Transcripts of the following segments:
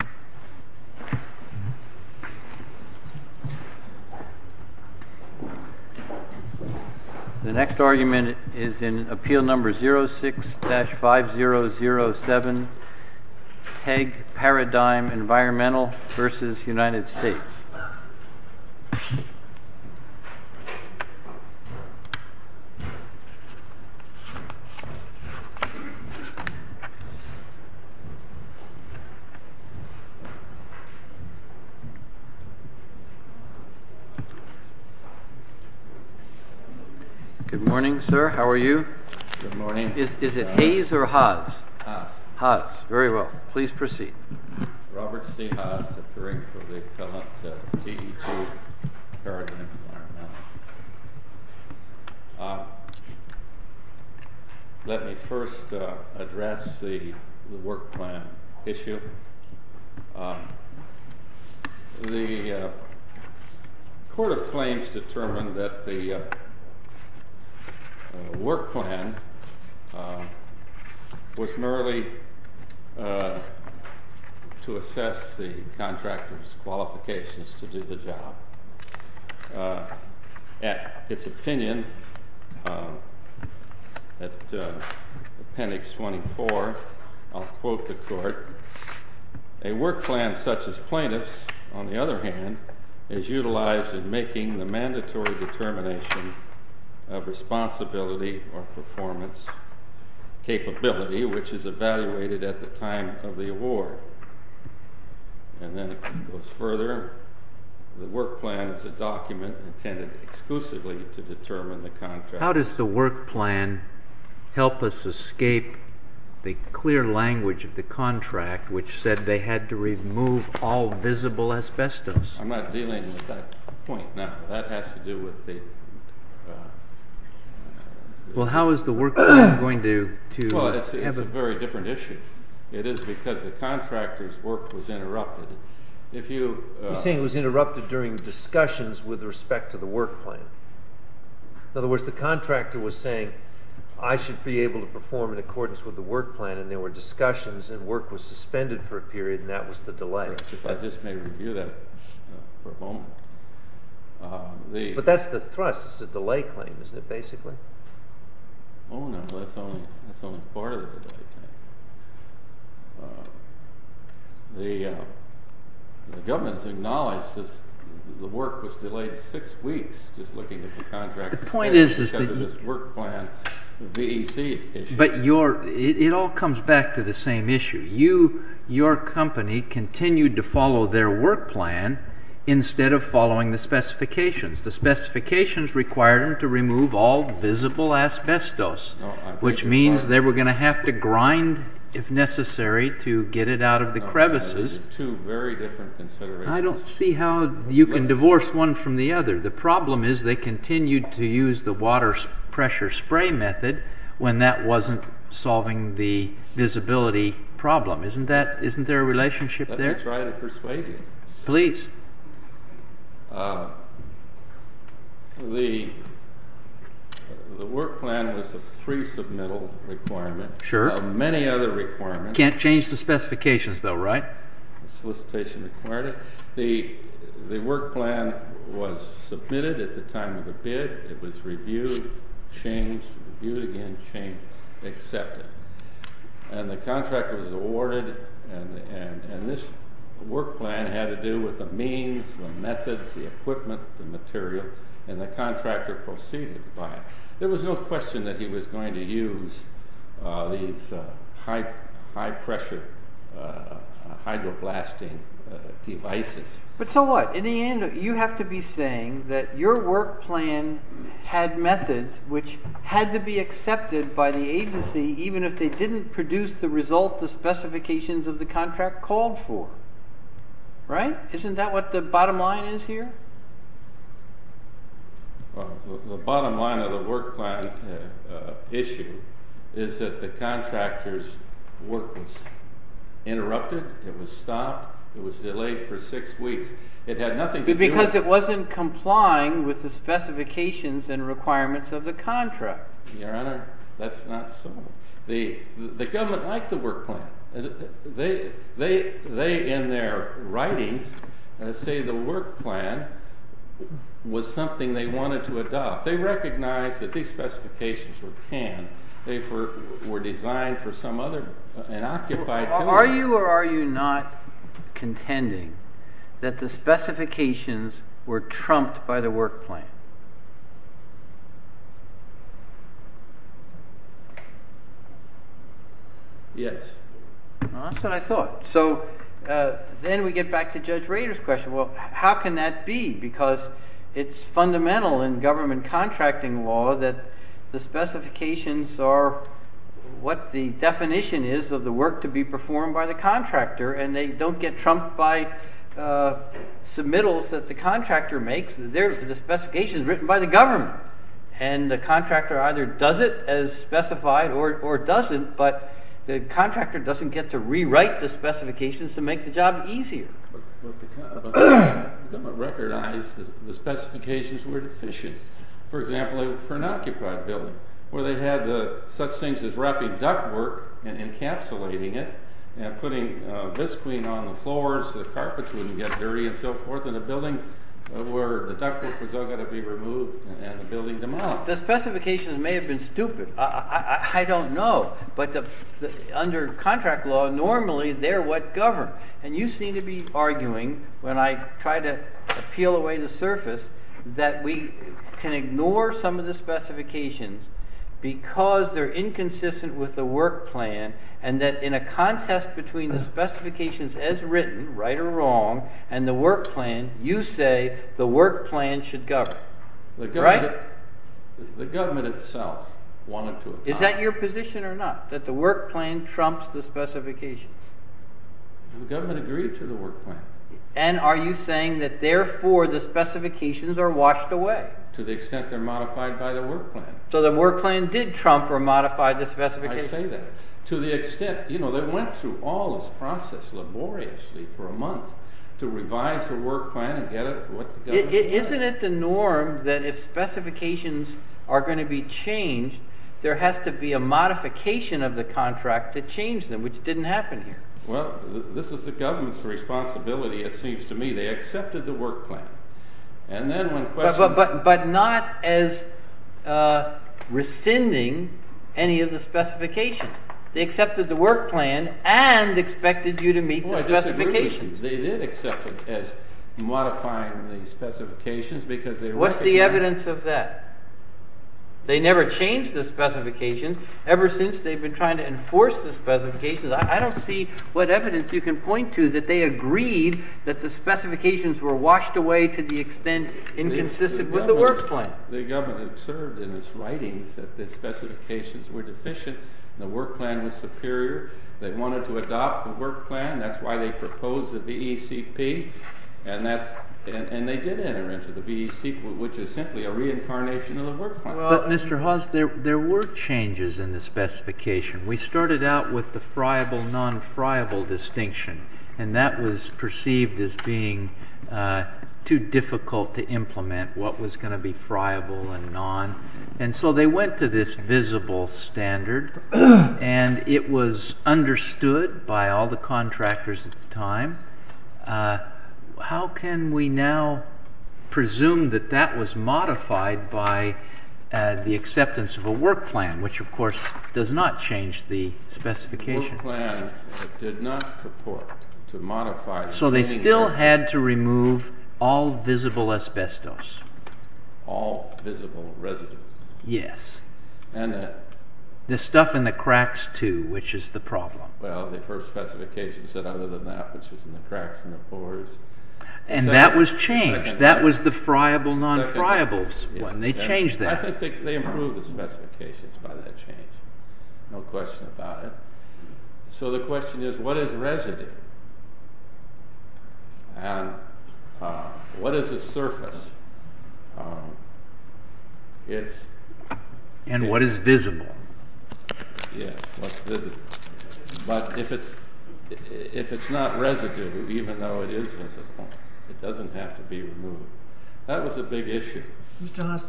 The next argument is in Appeal No. 06-5007, TEG-Paradigm Environmental v. United States. Good morning, sir. How are you? Good morning. Is it Hayes or Haas? Haas. Haas. Very well. Please proceed. Robert C. Haas, the Curriculum for the Appellate, TEG-Paradigm Environmental. Let me first address the work plan issue. The Court of Claims determined that the work plan was merely to assess the contractor's qualifications to do the job. At its opinion, at Appendix 24, I'll quote the Court, A work plan such as plaintiff's, on the other hand, is utilized in making the mandatory determination of responsibility or performance capability, which is evaluated at the time of the award. And then it goes further. The work plan is a document intended exclusively to determine the contractor. How does the work plan help us escape the clear language of the contract, which said they had to remove all visible asbestos? I'm not dealing with that point now. That has to do with the… Well, how is the work plan going to… Well, it's a very different issue. It is because the contractor's work was interrupted. If you… I'm saying it was interrupted during discussions with respect to the work plan. In other words, the contractor was saying, I should be able to perform in accordance with the work plan, and there were discussions, and work was suspended for a period, and that was the delay. If I just may review that for a moment. But that's the thrust. It's a delay claim, isn't it, basically? Oh, no, that's only part of the delay claim. The government has acknowledged the work was delayed six weeks just looking at the contract. The point is… Because of this work plan, the BEC issue. It all comes back to the same issue. Your company continued to follow their work plan instead of following the specifications. The specifications required them to remove all visible asbestos, which means they were going to have to grind, if necessary, to get it out of the crevices. Two very different considerations. I don't see how you can divorce one from the other. The problem is they continued to use the water pressure spray method when that wasn't solving the visibility problem. Isn't there a relationship there? Let me try to persuade you. Please. The work plan was a pre-submittal requirement. Sure. Many other requirements… Can't change the specifications, though, right? The solicitation required it. The work plan was submitted at the time of the bid. It was reviewed, changed, reviewed again, changed, accepted. And the contract was awarded, and this work plan had to do with the means, the methods, the equipment, the material, and the contractor proceeded by it. There was no question that he was going to use these high-pressure hydroblasting devices. But so what? In the end, you have to be saying that your work plan had methods which had to be accepted by the agency even if they didn't produce the result the specifications of the contract called for, right? Isn't that what the bottom line is here? The bottom line of the work plan issue is that the contractor's work was interrupted. It was stopped. It was delayed for six weeks. It had nothing to do with… Because it wasn't complying with the specifications and requirements of the contract. Your Honor, that's not so. The government liked the work plan. They, in their writings, say the work plan was something they wanted to adopt. They recognized that these specifications were canned. They were designed for some other unoccupied… Are you or are you not contending that the specifications were trumped by the work plan? Yes. That's what I thought. So then we get back to Judge Rader's question. Well, how can that be? Because it's fundamental in government contracting law that the specifications are what the definition is of the work to be performed by the contractor, and they don't get trumped by submittals that the contractor makes. The specification is written by the government, and the contractor either does it as specified or doesn't, but the contractor doesn't get to rewrite the specifications to make the job easier. The government recognized the specifications were deficient. For example, for an occupied building, where they had such things as wrapping ductwork and encapsulating it and putting visqueen on the floors so the carpets wouldn't get dirty and so forth in a building where the ductwork was all going to be removed and the building demolished. Well, the specifications may have been stupid. I don't know. But under contract law, normally they're what govern. And you seem to be arguing, when I try to peel away the surface, that we can ignore some of the specifications because they're inconsistent with the work plan and that in a contest between the specifications as written, right or wrong, and the work plan, you say the work plan should govern. Right. The government itself wanted to. Is that your position or not, that the work plan trumps the specifications? The government agreed to the work plan. And are you saying that therefore the specifications are washed away? To the extent they're modified by the work plan. So the work plan did trump or modify the specifications? I say that. To the extent, you know, they went through all this process laboriously for a month to revise the work plan and get it what the government wanted. Isn't it the norm that if specifications are going to be changed, there has to be a modification of the contract to change them, which didn't happen here? Well, this is the government's responsibility, it seems to me. They accepted the work plan. But not as rescinding any of the specifications. They accepted the work plan and expected you to meet the specifications. They did accept it as modifying the specifications. What's the evidence of that? They never changed the specifications. Ever since, they've been trying to enforce the specifications. I don't see what evidence you can point to that they agreed that the specifications were washed away to the extent inconsistent with the work plan. The government observed in its writings that the specifications were deficient and the work plan was superior. They wanted to adopt the work plan. That's why they proposed the BECP. And they did enter into the BECP, which is simply a reincarnation of the work plan. Well, Mr. Haas, there were changes in the specification. We started out with the friable, non-friable distinction. And that was perceived as being too difficult to implement what was going to be friable and non. And so they went to this visible standard, and it was understood by all the contractors at the time. How can we now presume that that was modified by the acceptance of a work plan, which of course does not change the specifications. The work plan did not purport to modify… So they still had to remove all visible asbestos. All visible residue. Yes. The stuff in the cracks too, which is the problem. Well, the first specification said other than that, which was in the cracks in the floors. And that was changed. That was the friable, non-friable one. They changed that. I think they improved the specifications by that change. No question about it. So the question is, what is residue? And what is a surface? And what is visible? Yes, what's visible. But if it's not residue, even though it is visible, it doesn't have to be removed. That was a big issue. Mr. Haas,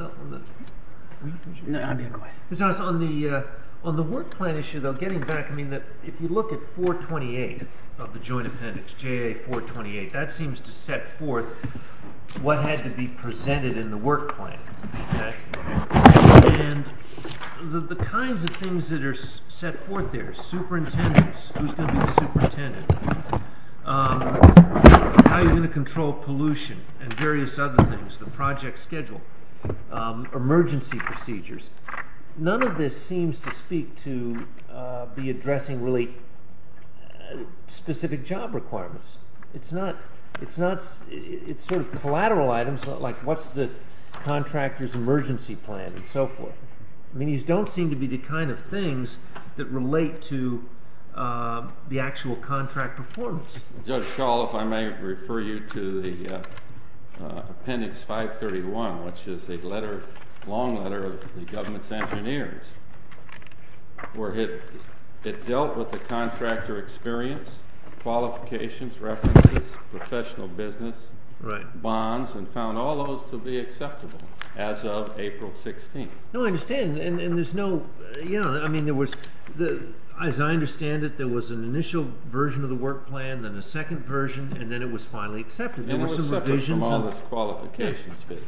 on the work plan issue, though, getting back, I mean, if you look at 428 of the joint appendix, JA 428, that seems to set forth what had to be presented in the work plan. And the kinds of things that are set forth there, superintendents, who's going to be the superintendent, how you're going to control pollution and various other things, the project schedule, emergency procedures, none of this seems to speak to be addressing really specific job requirements. It's sort of collateral items, like what's the contractor's emergency plan and so forth. I mean, these don't seem to be the kind of things that relate to the actual contract performance. Judge Schall, if I may refer you to the appendix 531, which is a letter, long letter of the government's engineers, where it dealt with the contractor experience, qualifications, references, professional business, bonds, and found all those to be acceptable as of April 16th. No, I understand. And there's no, you know, I mean, there was, as I understand it, there was an initial version of the work plan, then a second version, and then it was finally accepted. And it was separate from all this qualifications business.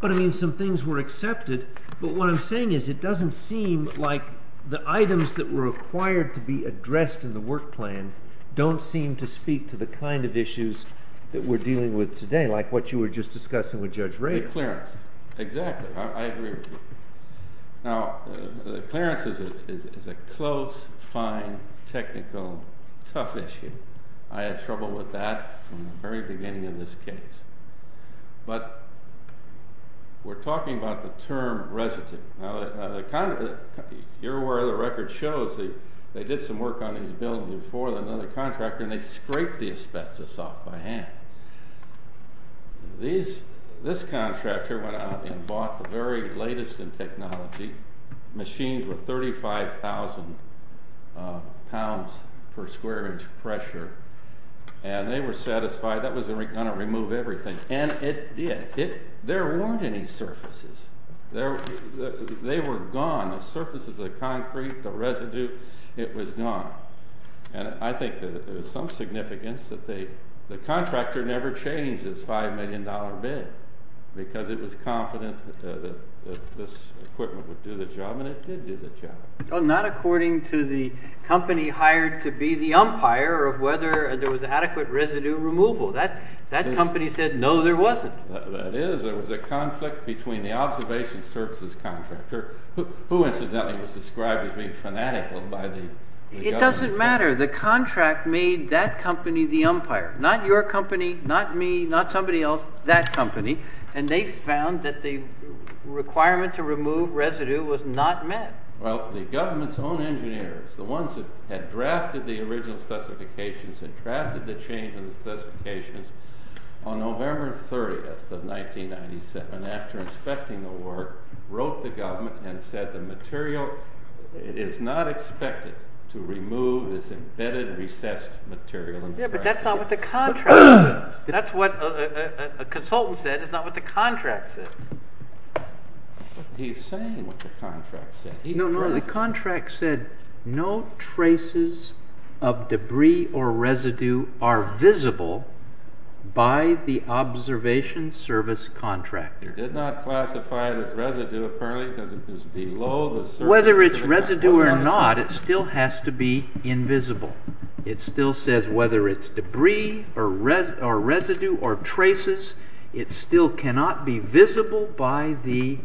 But, I mean, some things were accepted. But what I'm saying is it doesn't seem like the items that were required to be addressed in the work plan don't seem to speak to the kind of issues that we're dealing with today, like what you were just discussing with Judge Ray. The clearance. Exactly. I agree with you. Now, the clearance is a close, fine, technical, tough issue. I had trouble with that from the very beginning of this case. But we're talking about the term residue. Now, here where the record shows, they did some work on these bills before with another contractor, and they scraped the asbestos off by hand. This contractor went out and bought the very latest in technology, machines with 35,000 pounds per square inch pressure, and they were satisfied that was going to remove everything. And it did. There weren't any surfaces. They were gone. The surfaces, the concrete, the residue, it was gone. And I think that there's some significance that the contractor never changed his $5 million bid because it was confident that this equipment would do the job, and it did do the job. Well, not according to the company hired to be the umpire of whether there was adequate residue removal. That company said, no, there wasn't. That is, there was a conflict between the observation services contractor, who incidentally was described as being fanatical by the government. It doesn't matter. The contract made that company the umpire, not your company, not me, not somebody else, that company. And they found that the requirement to remove residue was not met. Well, the government's own engineers, the ones that had drafted the original specifications and drafted the change in the specifications, on November 30th of 1997, after inspecting the work, wrote the government and said the material is not expected to remove this embedded, recessed material. Yeah, but that's not what the contract said. That's what a consultant said. It's not what the contract said. He's saying what the contract said. No, no, the contract said no traces of debris or residue are visible by the observation service contractor. It did not classify it as residue, apparently, because it was below the surface. Whether it's residue or not, it still has to be invisible. It still says whether it's debris or residue or traces, it still cannot be visible by the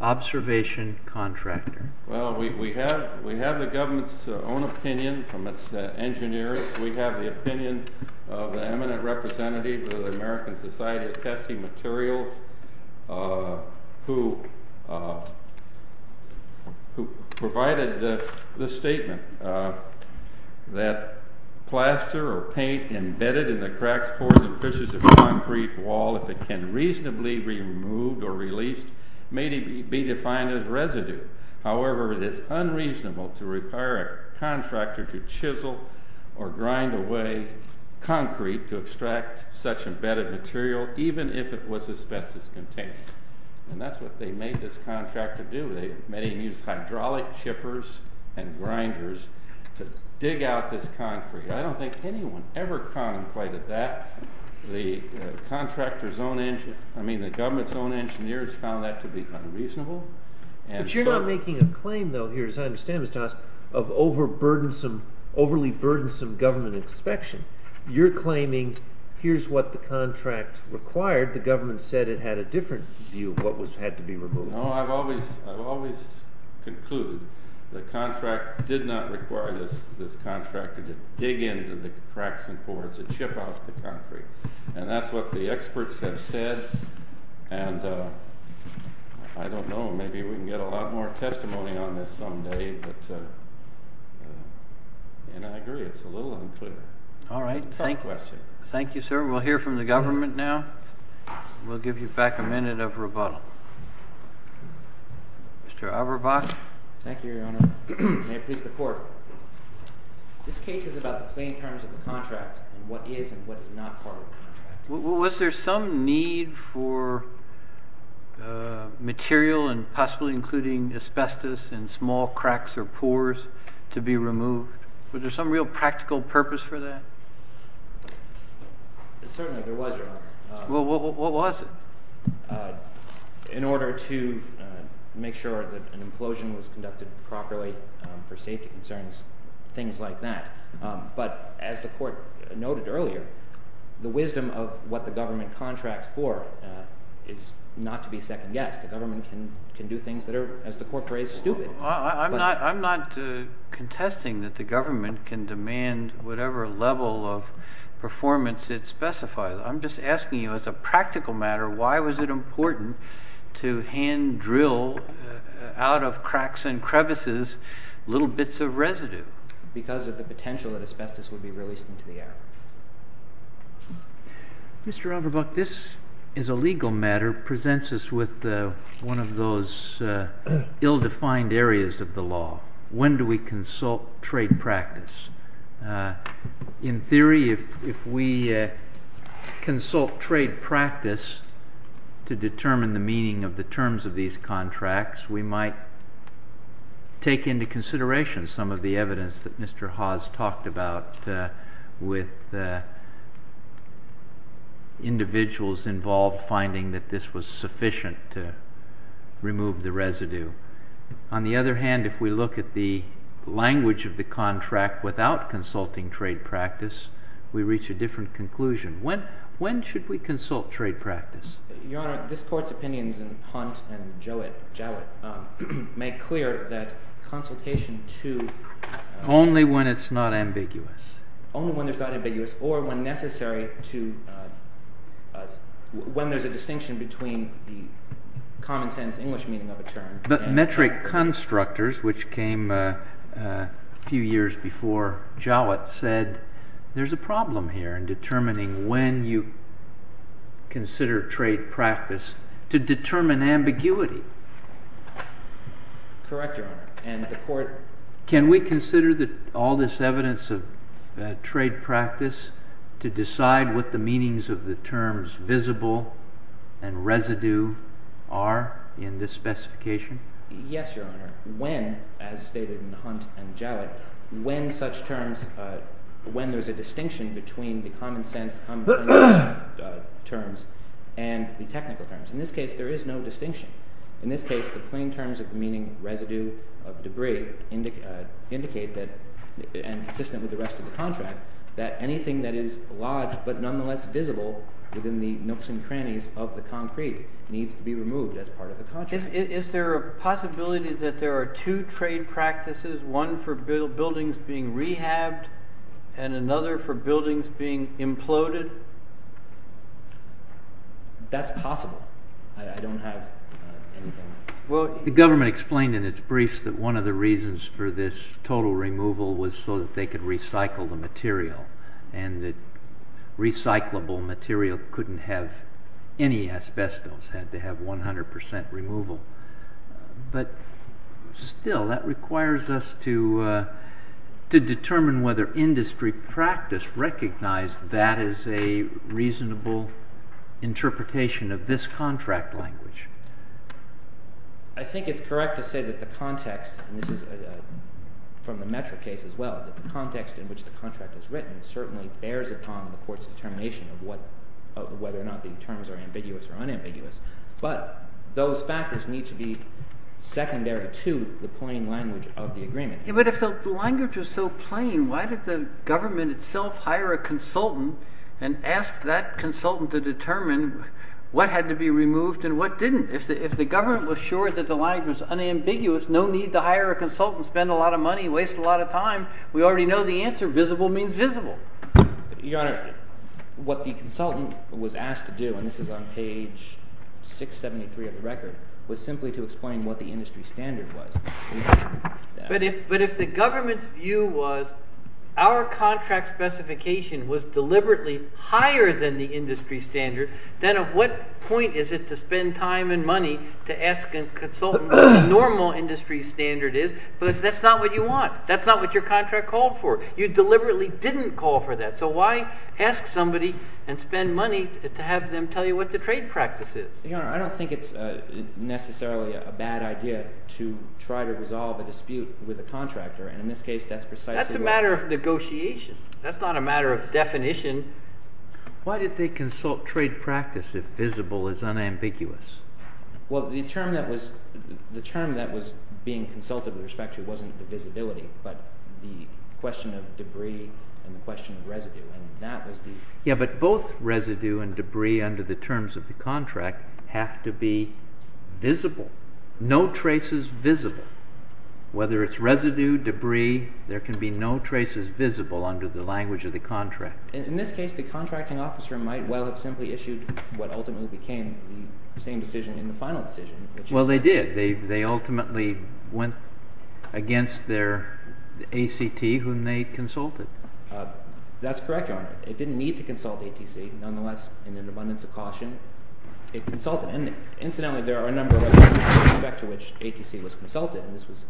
observation contractor. Well, we have the government's own opinion from its engineers. We have the opinion of the eminent representative of the American Society of Testing Materials, who provided the statement that plaster or paint embedded in the cracks, pores, and fissures of concrete wall, if it can reasonably be removed or released, may be defined as residue. However, it is unreasonable to require a contractor to chisel or grind away concrete to extract such embedded material, even if it was asbestos-containing. And that's what they made this contractor do. They made him use hydraulic chippers and grinders to dig out this concrete. I don't think anyone ever contemplated that. The government's own engineers found that to be unreasonable. But you're not making a claim, though, here, as I understand this, of overly burdensome government inspection. You're claiming here's what the contract required. The government said it had a different view of what had to be removed. No, I've always concluded the contract did not require this contractor to dig into the cracks and pores and chip out the concrete. And that's what the experts have said. And I don't know. Maybe we can get a lot more testimony on this someday. But I agree. It's a little unclear. It's a tough question. All right. Thank you, sir. We'll hear from the government now. We'll give you back a minute of rebuttal. Mr. Aberbach? Thank you, Your Honor. May it please the Court. This case is about the plain terms of the contract and what is and what is not part of the contract. Was there some need for material and possibly including asbestos and small cracks or pores to be removed? Was there some real practical purpose for that? Certainly there was, Your Honor. What was it? In order to make sure that an implosion was conducted properly for safety concerns, things like that. But as the Court noted earlier, the wisdom of what the government contracts for is not to be second-guessed. The government can do things that are, as the Court raised, stupid. I'm not contesting that the government can demand whatever level of performance it specifies. I'm just asking you as a practical matter, why was it important to hand-drill out of cracks and crevices little bits of residue? Because of the potential that asbestos would be released into the air. Mr. Aberbach, this, as a legal matter, presents us with one of those ill-defined areas of the law. When do we consult trade practice? In theory, if we consult trade practice to determine the meaning of the terms of these contracts, we might take into consideration some of the evidence that Mr. Haas talked about with individuals involved finding that this was sufficient to remove the residue. On the other hand, if we look at the language of the contract without consulting trade practice, we reach a different conclusion. When should we consult trade practice? Your Honor, this Court's opinions in Hunt and Jowett make clear that consultation to— Only when it's not ambiguous. Only when it's not ambiguous or when necessary to—when there's a distinction between the common-sense English meaning of a term. But metric constructors, which came a few years before Jowett, said there's a problem here in determining when you consider trade practice to determine ambiguity. Correct, Your Honor. And the Court— Can we consider all this evidence of trade practice to decide what the meanings of the terms visible and residue are in this specification? Yes, Your Honor. When, as stated in Hunt and Jowett, when there's a distinction between the common-sense terms and the technical terms. In this case, there is no distinction. In this case, the plain terms of the meaning residue of debris indicate that—and consistent with the rest of the contract— that anything that is lodged but nonetheless visible within the nooks and crannies of the concrete needs to be removed as part of the contract. Is there a possibility that there are two trade practices, one for buildings being rehabbed and another for buildings being imploded? That's possible. I don't have anything— Well, the government explained in its briefs that one of the reasons for this total removal was so that they could recycle the material. And that recyclable material couldn't have any asbestos. It had to have 100 percent removal. But still, that requires us to determine whether industry practice recognized that as a reasonable interpretation of this contract language. I think it's correct to say that the context—and this is from the Metro case as well—that the context in which the contract is written certainly bears upon the court's determination of whether or not the terms are ambiguous or unambiguous. But those factors need to be secondary to the plain language of the agreement. But if the language was so plain, why did the government itself hire a consultant and ask that consultant to determine what had to be removed and what didn't? If the government was sure that the language was unambiguous, no need to hire a consultant, spend a lot of money, waste a lot of time. We already know the answer. Visible means visible. Your Honor, what the consultant was asked to do—and this is on page 673 of the record—was simply to explain what the industry standard was. But if the government's view was our contract specification was deliberately higher than the industry standard, then of what point is it to spend time and money to ask a consultant what the normal industry standard is? Because that's not what you want. That's not what your contract called for. You deliberately didn't call for that. So why ask somebody and spend money to have them tell you what the trade practice is? Your Honor, I don't think it's necessarily a bad idea to try to resolve a dispute with a contractor. And in this case, that's precisely what— That's a matter of negotiation. That's not a matter of definition. Why did they consult trade practice if visible is unambiguous? Well, the term that was being consulted with respect to wasn't the visibility, but the question of debris and the question of residue. And that was the— Yeah, but both residue and debris under the terms of the contract have to be visible, no traces visible. Whether it's residue, debris, there can be no traces visible under the language of the contract. In this case, the contracting officer might well have simply issued what ultimately became the same decision in the final decision, which is— Well, they did. They ultimately went against their ACT, whom they consulted. That's correct, Your Honor. It didn't need to consult ATC. Nonetheless, in an abundance of caution, it consulted. And incidentally, there are a number of instances with respect to which ATC was consulted, and this was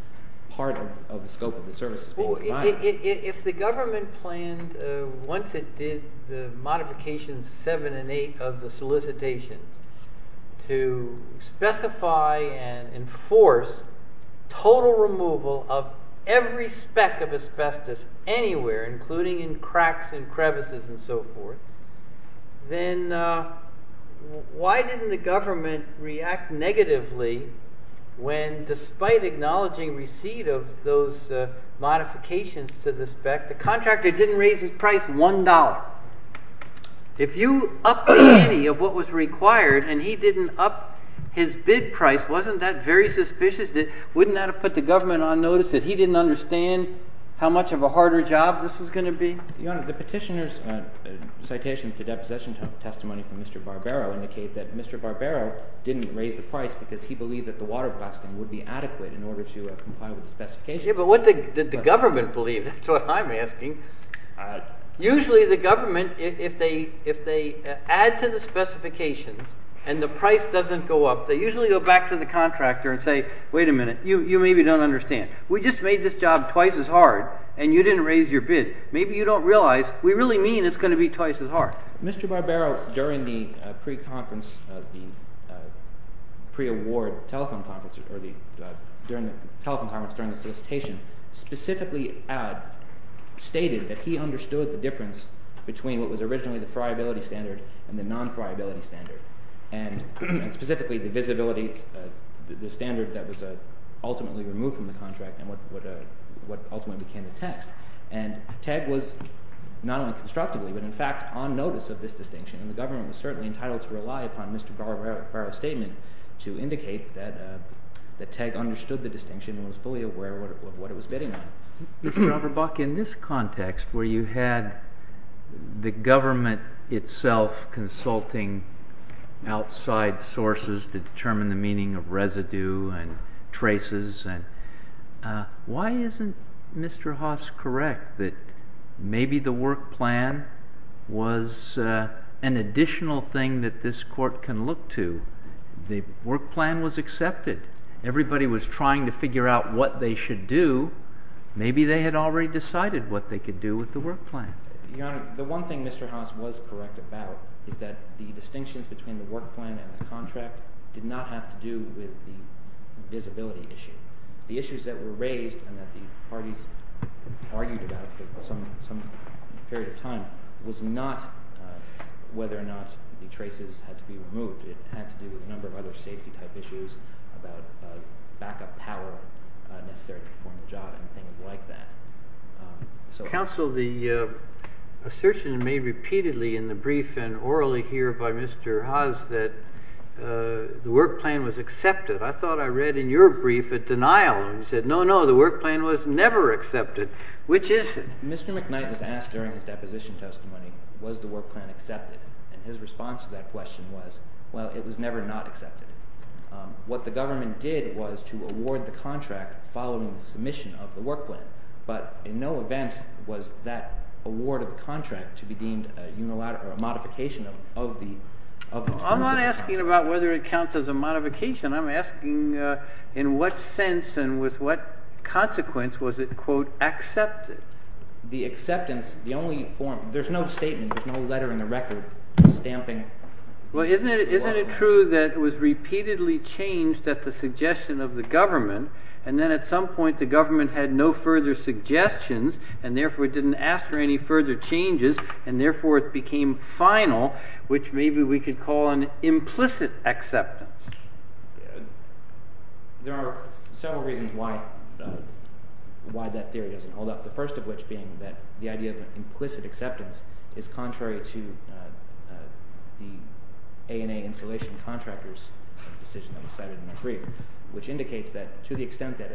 part of the scope of the services being provided. If the government planned, once it did the modifications seven and eight of the solicitation, to specify and enforce total removal of every speck of asbestos anywhere, including in cracks and crevices and so forth, then why didn't the government react negatively when, despite acknowledging receipt of those modifications to the speck, the contractor didn't raise his price $1? If you upped the penny of what was required and he didn't up his bid price, wasn't that very suspicious? Wouldn't that have put the government on notice that he didn't understand how much of a harder job this was going to be? Your Honor, the petitioner's citation to deposition testimony from Mr. Barbero indicate that Mr. Barbero didn't raise the price because he believed that the water blasting would be adequate in order to comply with the specifications. Yeah, but what did the government believe? That's what I'm asking. Usually the government, if they add to the specifications and the price doesn't go up, they usually go back to the contractor and say, wait a minute, you maybe don't understand. We just made this job twice as hard and you didn't raise your bid. Maybe you don't realize we really mean it's going to be twice as hard. Mr. Barbero, during the pre-conference, pre-award telephone conference, during the telephone conference, during the solicitation, specifically stated that he understood the difference between what was originally the friability standard and the non-friability standard. And specifically the visibility, the standard that was ultimately removed from the contract and what ultimately became the text. And Teg was not only constructively, but in fact on notice of this distinction. And the government was certainly entitled to rely upon Mr. Barbero's statement to indicate that Teg understood the distinction and was fully aware of what it was bidding on. Mr. Auerbach, in this context where you had the government itself consulting outside sources to determine the meaning of residue and traces, why isn't Mr. Haas correct that maybe the work plan was an additional thing that this court can look to? The work plan was accepted. Everybody was trying to figure out what they should do. Maybe they had already decided what they could do with the work plan. Your Honor, the one thing Mr. Haas was correct about is that the distinctions between the work plan and the contract did not have to do with the visibility issue. The issues that were raised and that the parties argued about for some period of time was not whether or not the traces had to be removed. It had to do with a number of other safety type issues about backup power necessary to perform the job and things like that. Counsel, the assertion made repeatedly in the brief and orally here by Mr. Haas that the work plan was accepted, I thought I read in your brief a denial. You said, no, no, the work plan was never accepted, which is? Mr. McKnight was asked during his deposition testimony, was the work plan accepted? And his response to that question was, well, it was never not accepted. What the government did was to award the contract following the submission of the work plan. But in no event was that award of the contract to be deemed a modification of the terms of the contract. I'm not asking about whether it counts as a modification. I'm asking in what sense and with what consequence was it, quote, accepted? The acceptance, the only form, there's no statement, there's no letter in the record stamping the work plan. Well, isn't it true that it was repeatedly changed at the suggestion of the government? And then at some point the government had no further suggestions, and therefore it didn't ask for any further changes, and therefore it became final, which maybe we could call an implicit acceptance. There are several reasons why that theory doesn't hold up, the first of which being that the idea of an implicit acceptance is contrary to the ANA installation contractor's decision that was cited in the brief, which indicates that to the extent that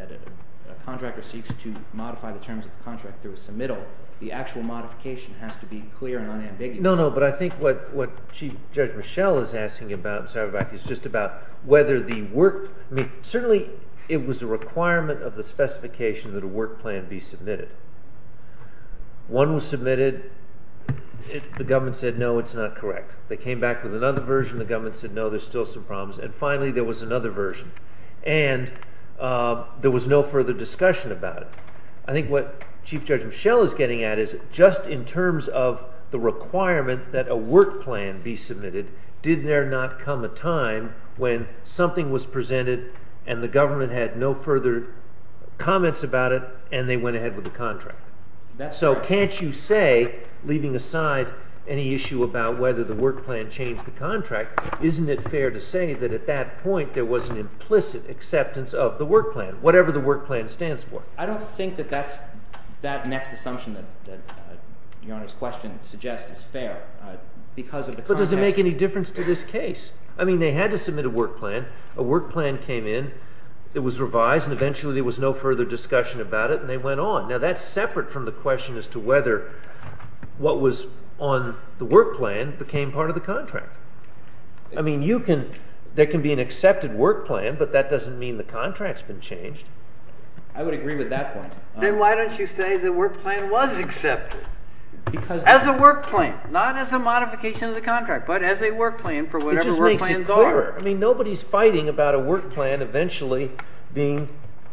a contractor seeks to modify the terms of the contract through a submittal, the actual modification has to be clear and unambiguous. No, no, but I think what Chief Judge Mischel is asking about is just about whether the work – I mean, certainly it was a requirement of the specification that a work plan be submitted. One was submitted, the government said, no, it's not correct. They came back with another version, the government said, no, there's still some problems, and finally there was another version, and there was no further discussion about it. I think what Chief Judge Mischel is getting at is just in terms of the requirement that a work plan be submitted, did there not come a time when something was presented and the government had no further comments about it and they went ahead with the contract? So can't you say, leaving aside any issue about whether the work plan changed the contract, isn't it fair to say that at that point there was an implicit acceptance of the work plan, whatever the work plan stands for? I don't think that that next assumption that Your Honor's question suggests is fair because of the context. But does it make any difference to this case? I mean, they had to submit a work plan. A work plan came in, it was revised, and eventually there was no further discussion about it, and they went on. Now, that's separate from the question as to whether what was on the work plan became part of the contract. I mean, you can – there can be an accepted work plan, but that doesn't mean the contract's been changed. I would agree with that point. Then why don't you say the work plan was accepted? Because – As a work plan, not as a modification of the contract, but as a work plan for whatever work plans are. It just makes it clearer. I mean, nobody's fighting about a work plan eventually being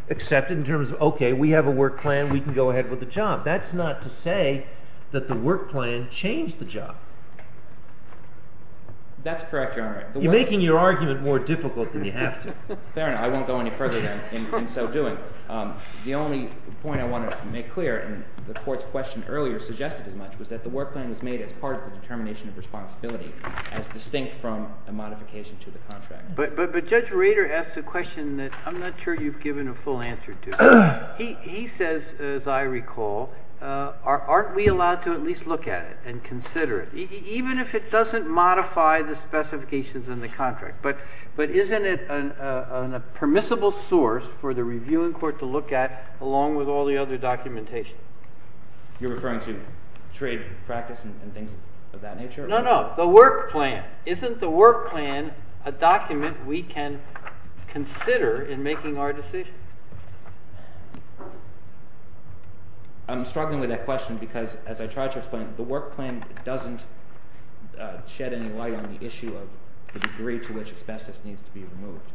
accepted in terms of, okay, we have a work plan, we can go ahead with the job. That's not to say that the work plan changed the job. That's correct, Your Honor. You're making your argument more difficult than you have to. Fair enough. I won't go any further than in so doing. The only point I want to make clear, and the Court's question earlier suggested as much, was that the work plan was made as part of the determination of responsibility as distinct from a modification to the contract. But Judge Rader asked a question that I'm not sure you've given a full answer to. He says, as I recall, aren't we allowed to at least look at it and consider it, even if it doesn't modify the specifications in the contract? But isn't it a permissible source for the reviewing court to look at along with all the other documentation? You're referring to trade practice and things of that nature? No, no. The work plan. Isn't the work plan a document we can consider in making our decision? I'm struggling with that question because, as I tried to explain, the work plan doesn't shed any light on the issue of the degree to which asbestos needs to be removed.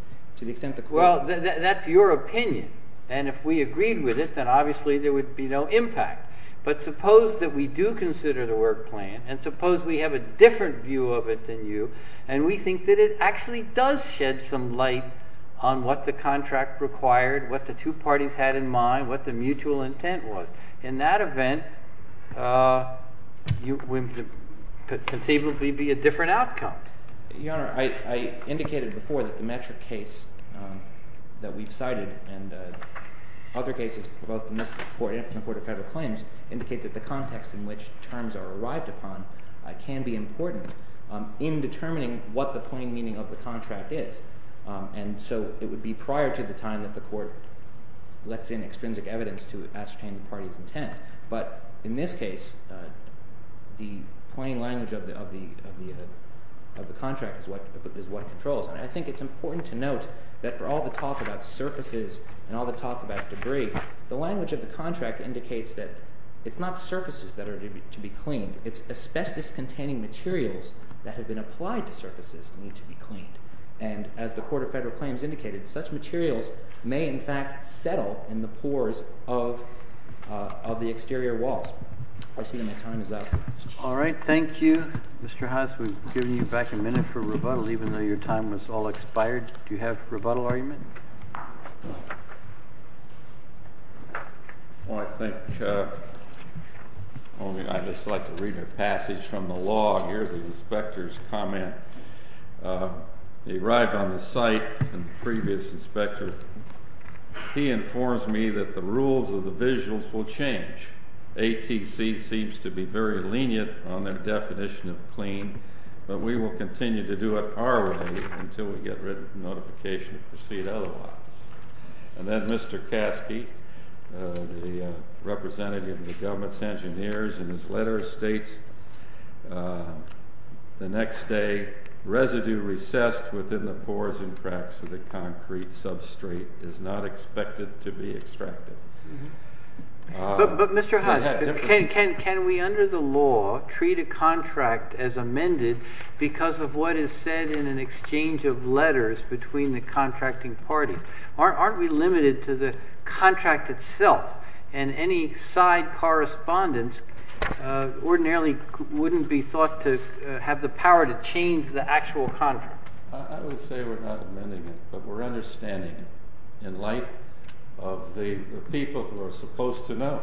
Well, that's your opinion, and if we agreed with it, then obviously there would be no impact. But suppose that we do consider the work plan, and suppose we have a different view of it than you, and we think that it actually does shed some light on what the contract required, what the two parties had in mind, what the mutual intent was. In that event, it would conceivably be a different outcome. Your Honor, I indicated before that the metric case that we've cited and other cases, both in this court and in the Court of Federal Claims, indicate that the context in which terms are arrived upon can be important in determining what the plain meaning of the contract is. And so it would be prior to the time that the court lets in extrinsic evidence to ascertain the party's intent. But in this case, the plain language of the contract is what controls. And I think it's important to note that for all the talk about surfaces and all the talk about debris, the language of the contract indicates that it's not surfaces that are to be cleaned. It's asbestos-containing materials that have been applied to surfaces need to be cleaned. And as the Court of Federal Claims indicated, such materials may, in fact, settle in the pores of the exterior walls. I see that my time is up. All right. Thank you. Mr. House, we've given you back a minute for rebuttal, even though your time was all expired. Do you have a rebuttal argument? Well, I think I'd just like to read a passage from the law. Here's the inspector's comment. He arrived on the site, the previous inspector. He informs me that the rules of the visuals will change. ATC seems to be very lenient on their definition of clean, but we will continue to do it our way until we get written notification to proceed otherwise. And then Mr. Caskey, the representative of the government's engineers, in his letter states, the next day, residue recessed within the pores and cracks of the concrete substrate is not expected to be extracted. But, Mr. House, can we, under the law, treat a contract as amended because of what is said in an exchange of letters between the contracting parties? Aren't we limited to the contract itself? And any side correspondence ordinarily wouldn't be thought to have the power to change the actual contract. I would say we're not amending it, but we're understanding it in light of the people who are supposed to know,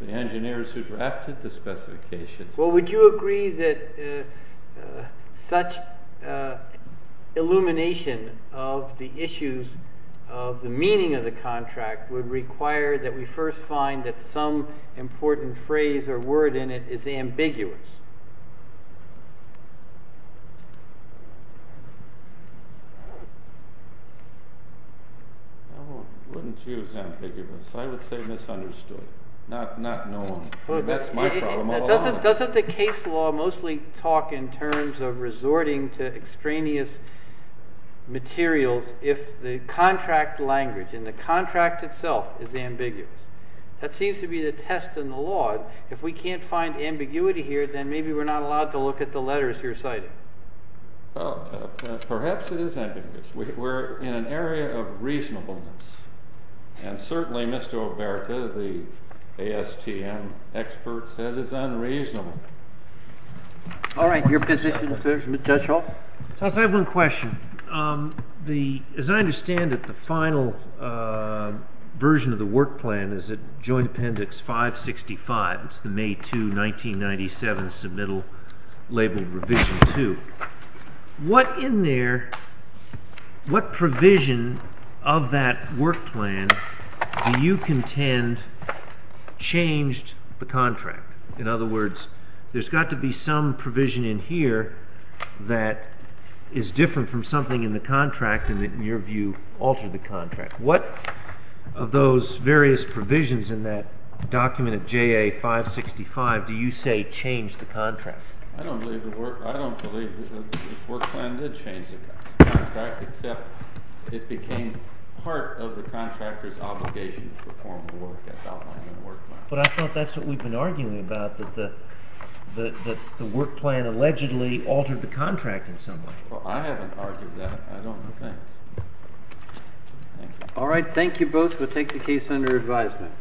the engineers who drafted the specifications. Well, would you agree that such illumination of the issues of the meaning of the contract would require that we first find that some important phrase or word in it is ambiguous? I wouldn't use ambiguous. I would say misunderstood. Not known. That's my problem. Doesn't the case law mostly talk in terms of resorting to extraneous materials if the contract language and the contract itself is ambiguous? That seems to be the test in the law. If we can't find ambiguity here, then maybe we're not allowed to look at the letters you're citing. Perhaps it is ambiguous. We're in an area of reasonableness. And certainly, Mr. Oberta, the ASTM expert, says it's unreasonable. All right. Your position, Mr. Judge Hall? Toss, I have one question. As I understand it, the final version of the work plan is at Joint Appendix 565. It's the May 2, 1997, submittal labeled Revision 2. What provision of that work plan do you contend changed the contract? In other words, there's got to be some provision in here that is different from something in the contract and, in your view, altered the contract. What of those various provisions in that document of JA 565 do you say changed the contract? I don't believe this work plan did change the contract, except it became part of the contractor's obligation to perform the work as outlined in the work plan. But I thought that's what we've been arguing about, that the work plan allegedly altered the contract in some way. Well, I haven't argued that. I don't think. All right. Thank you both. We'll take the case under advisement.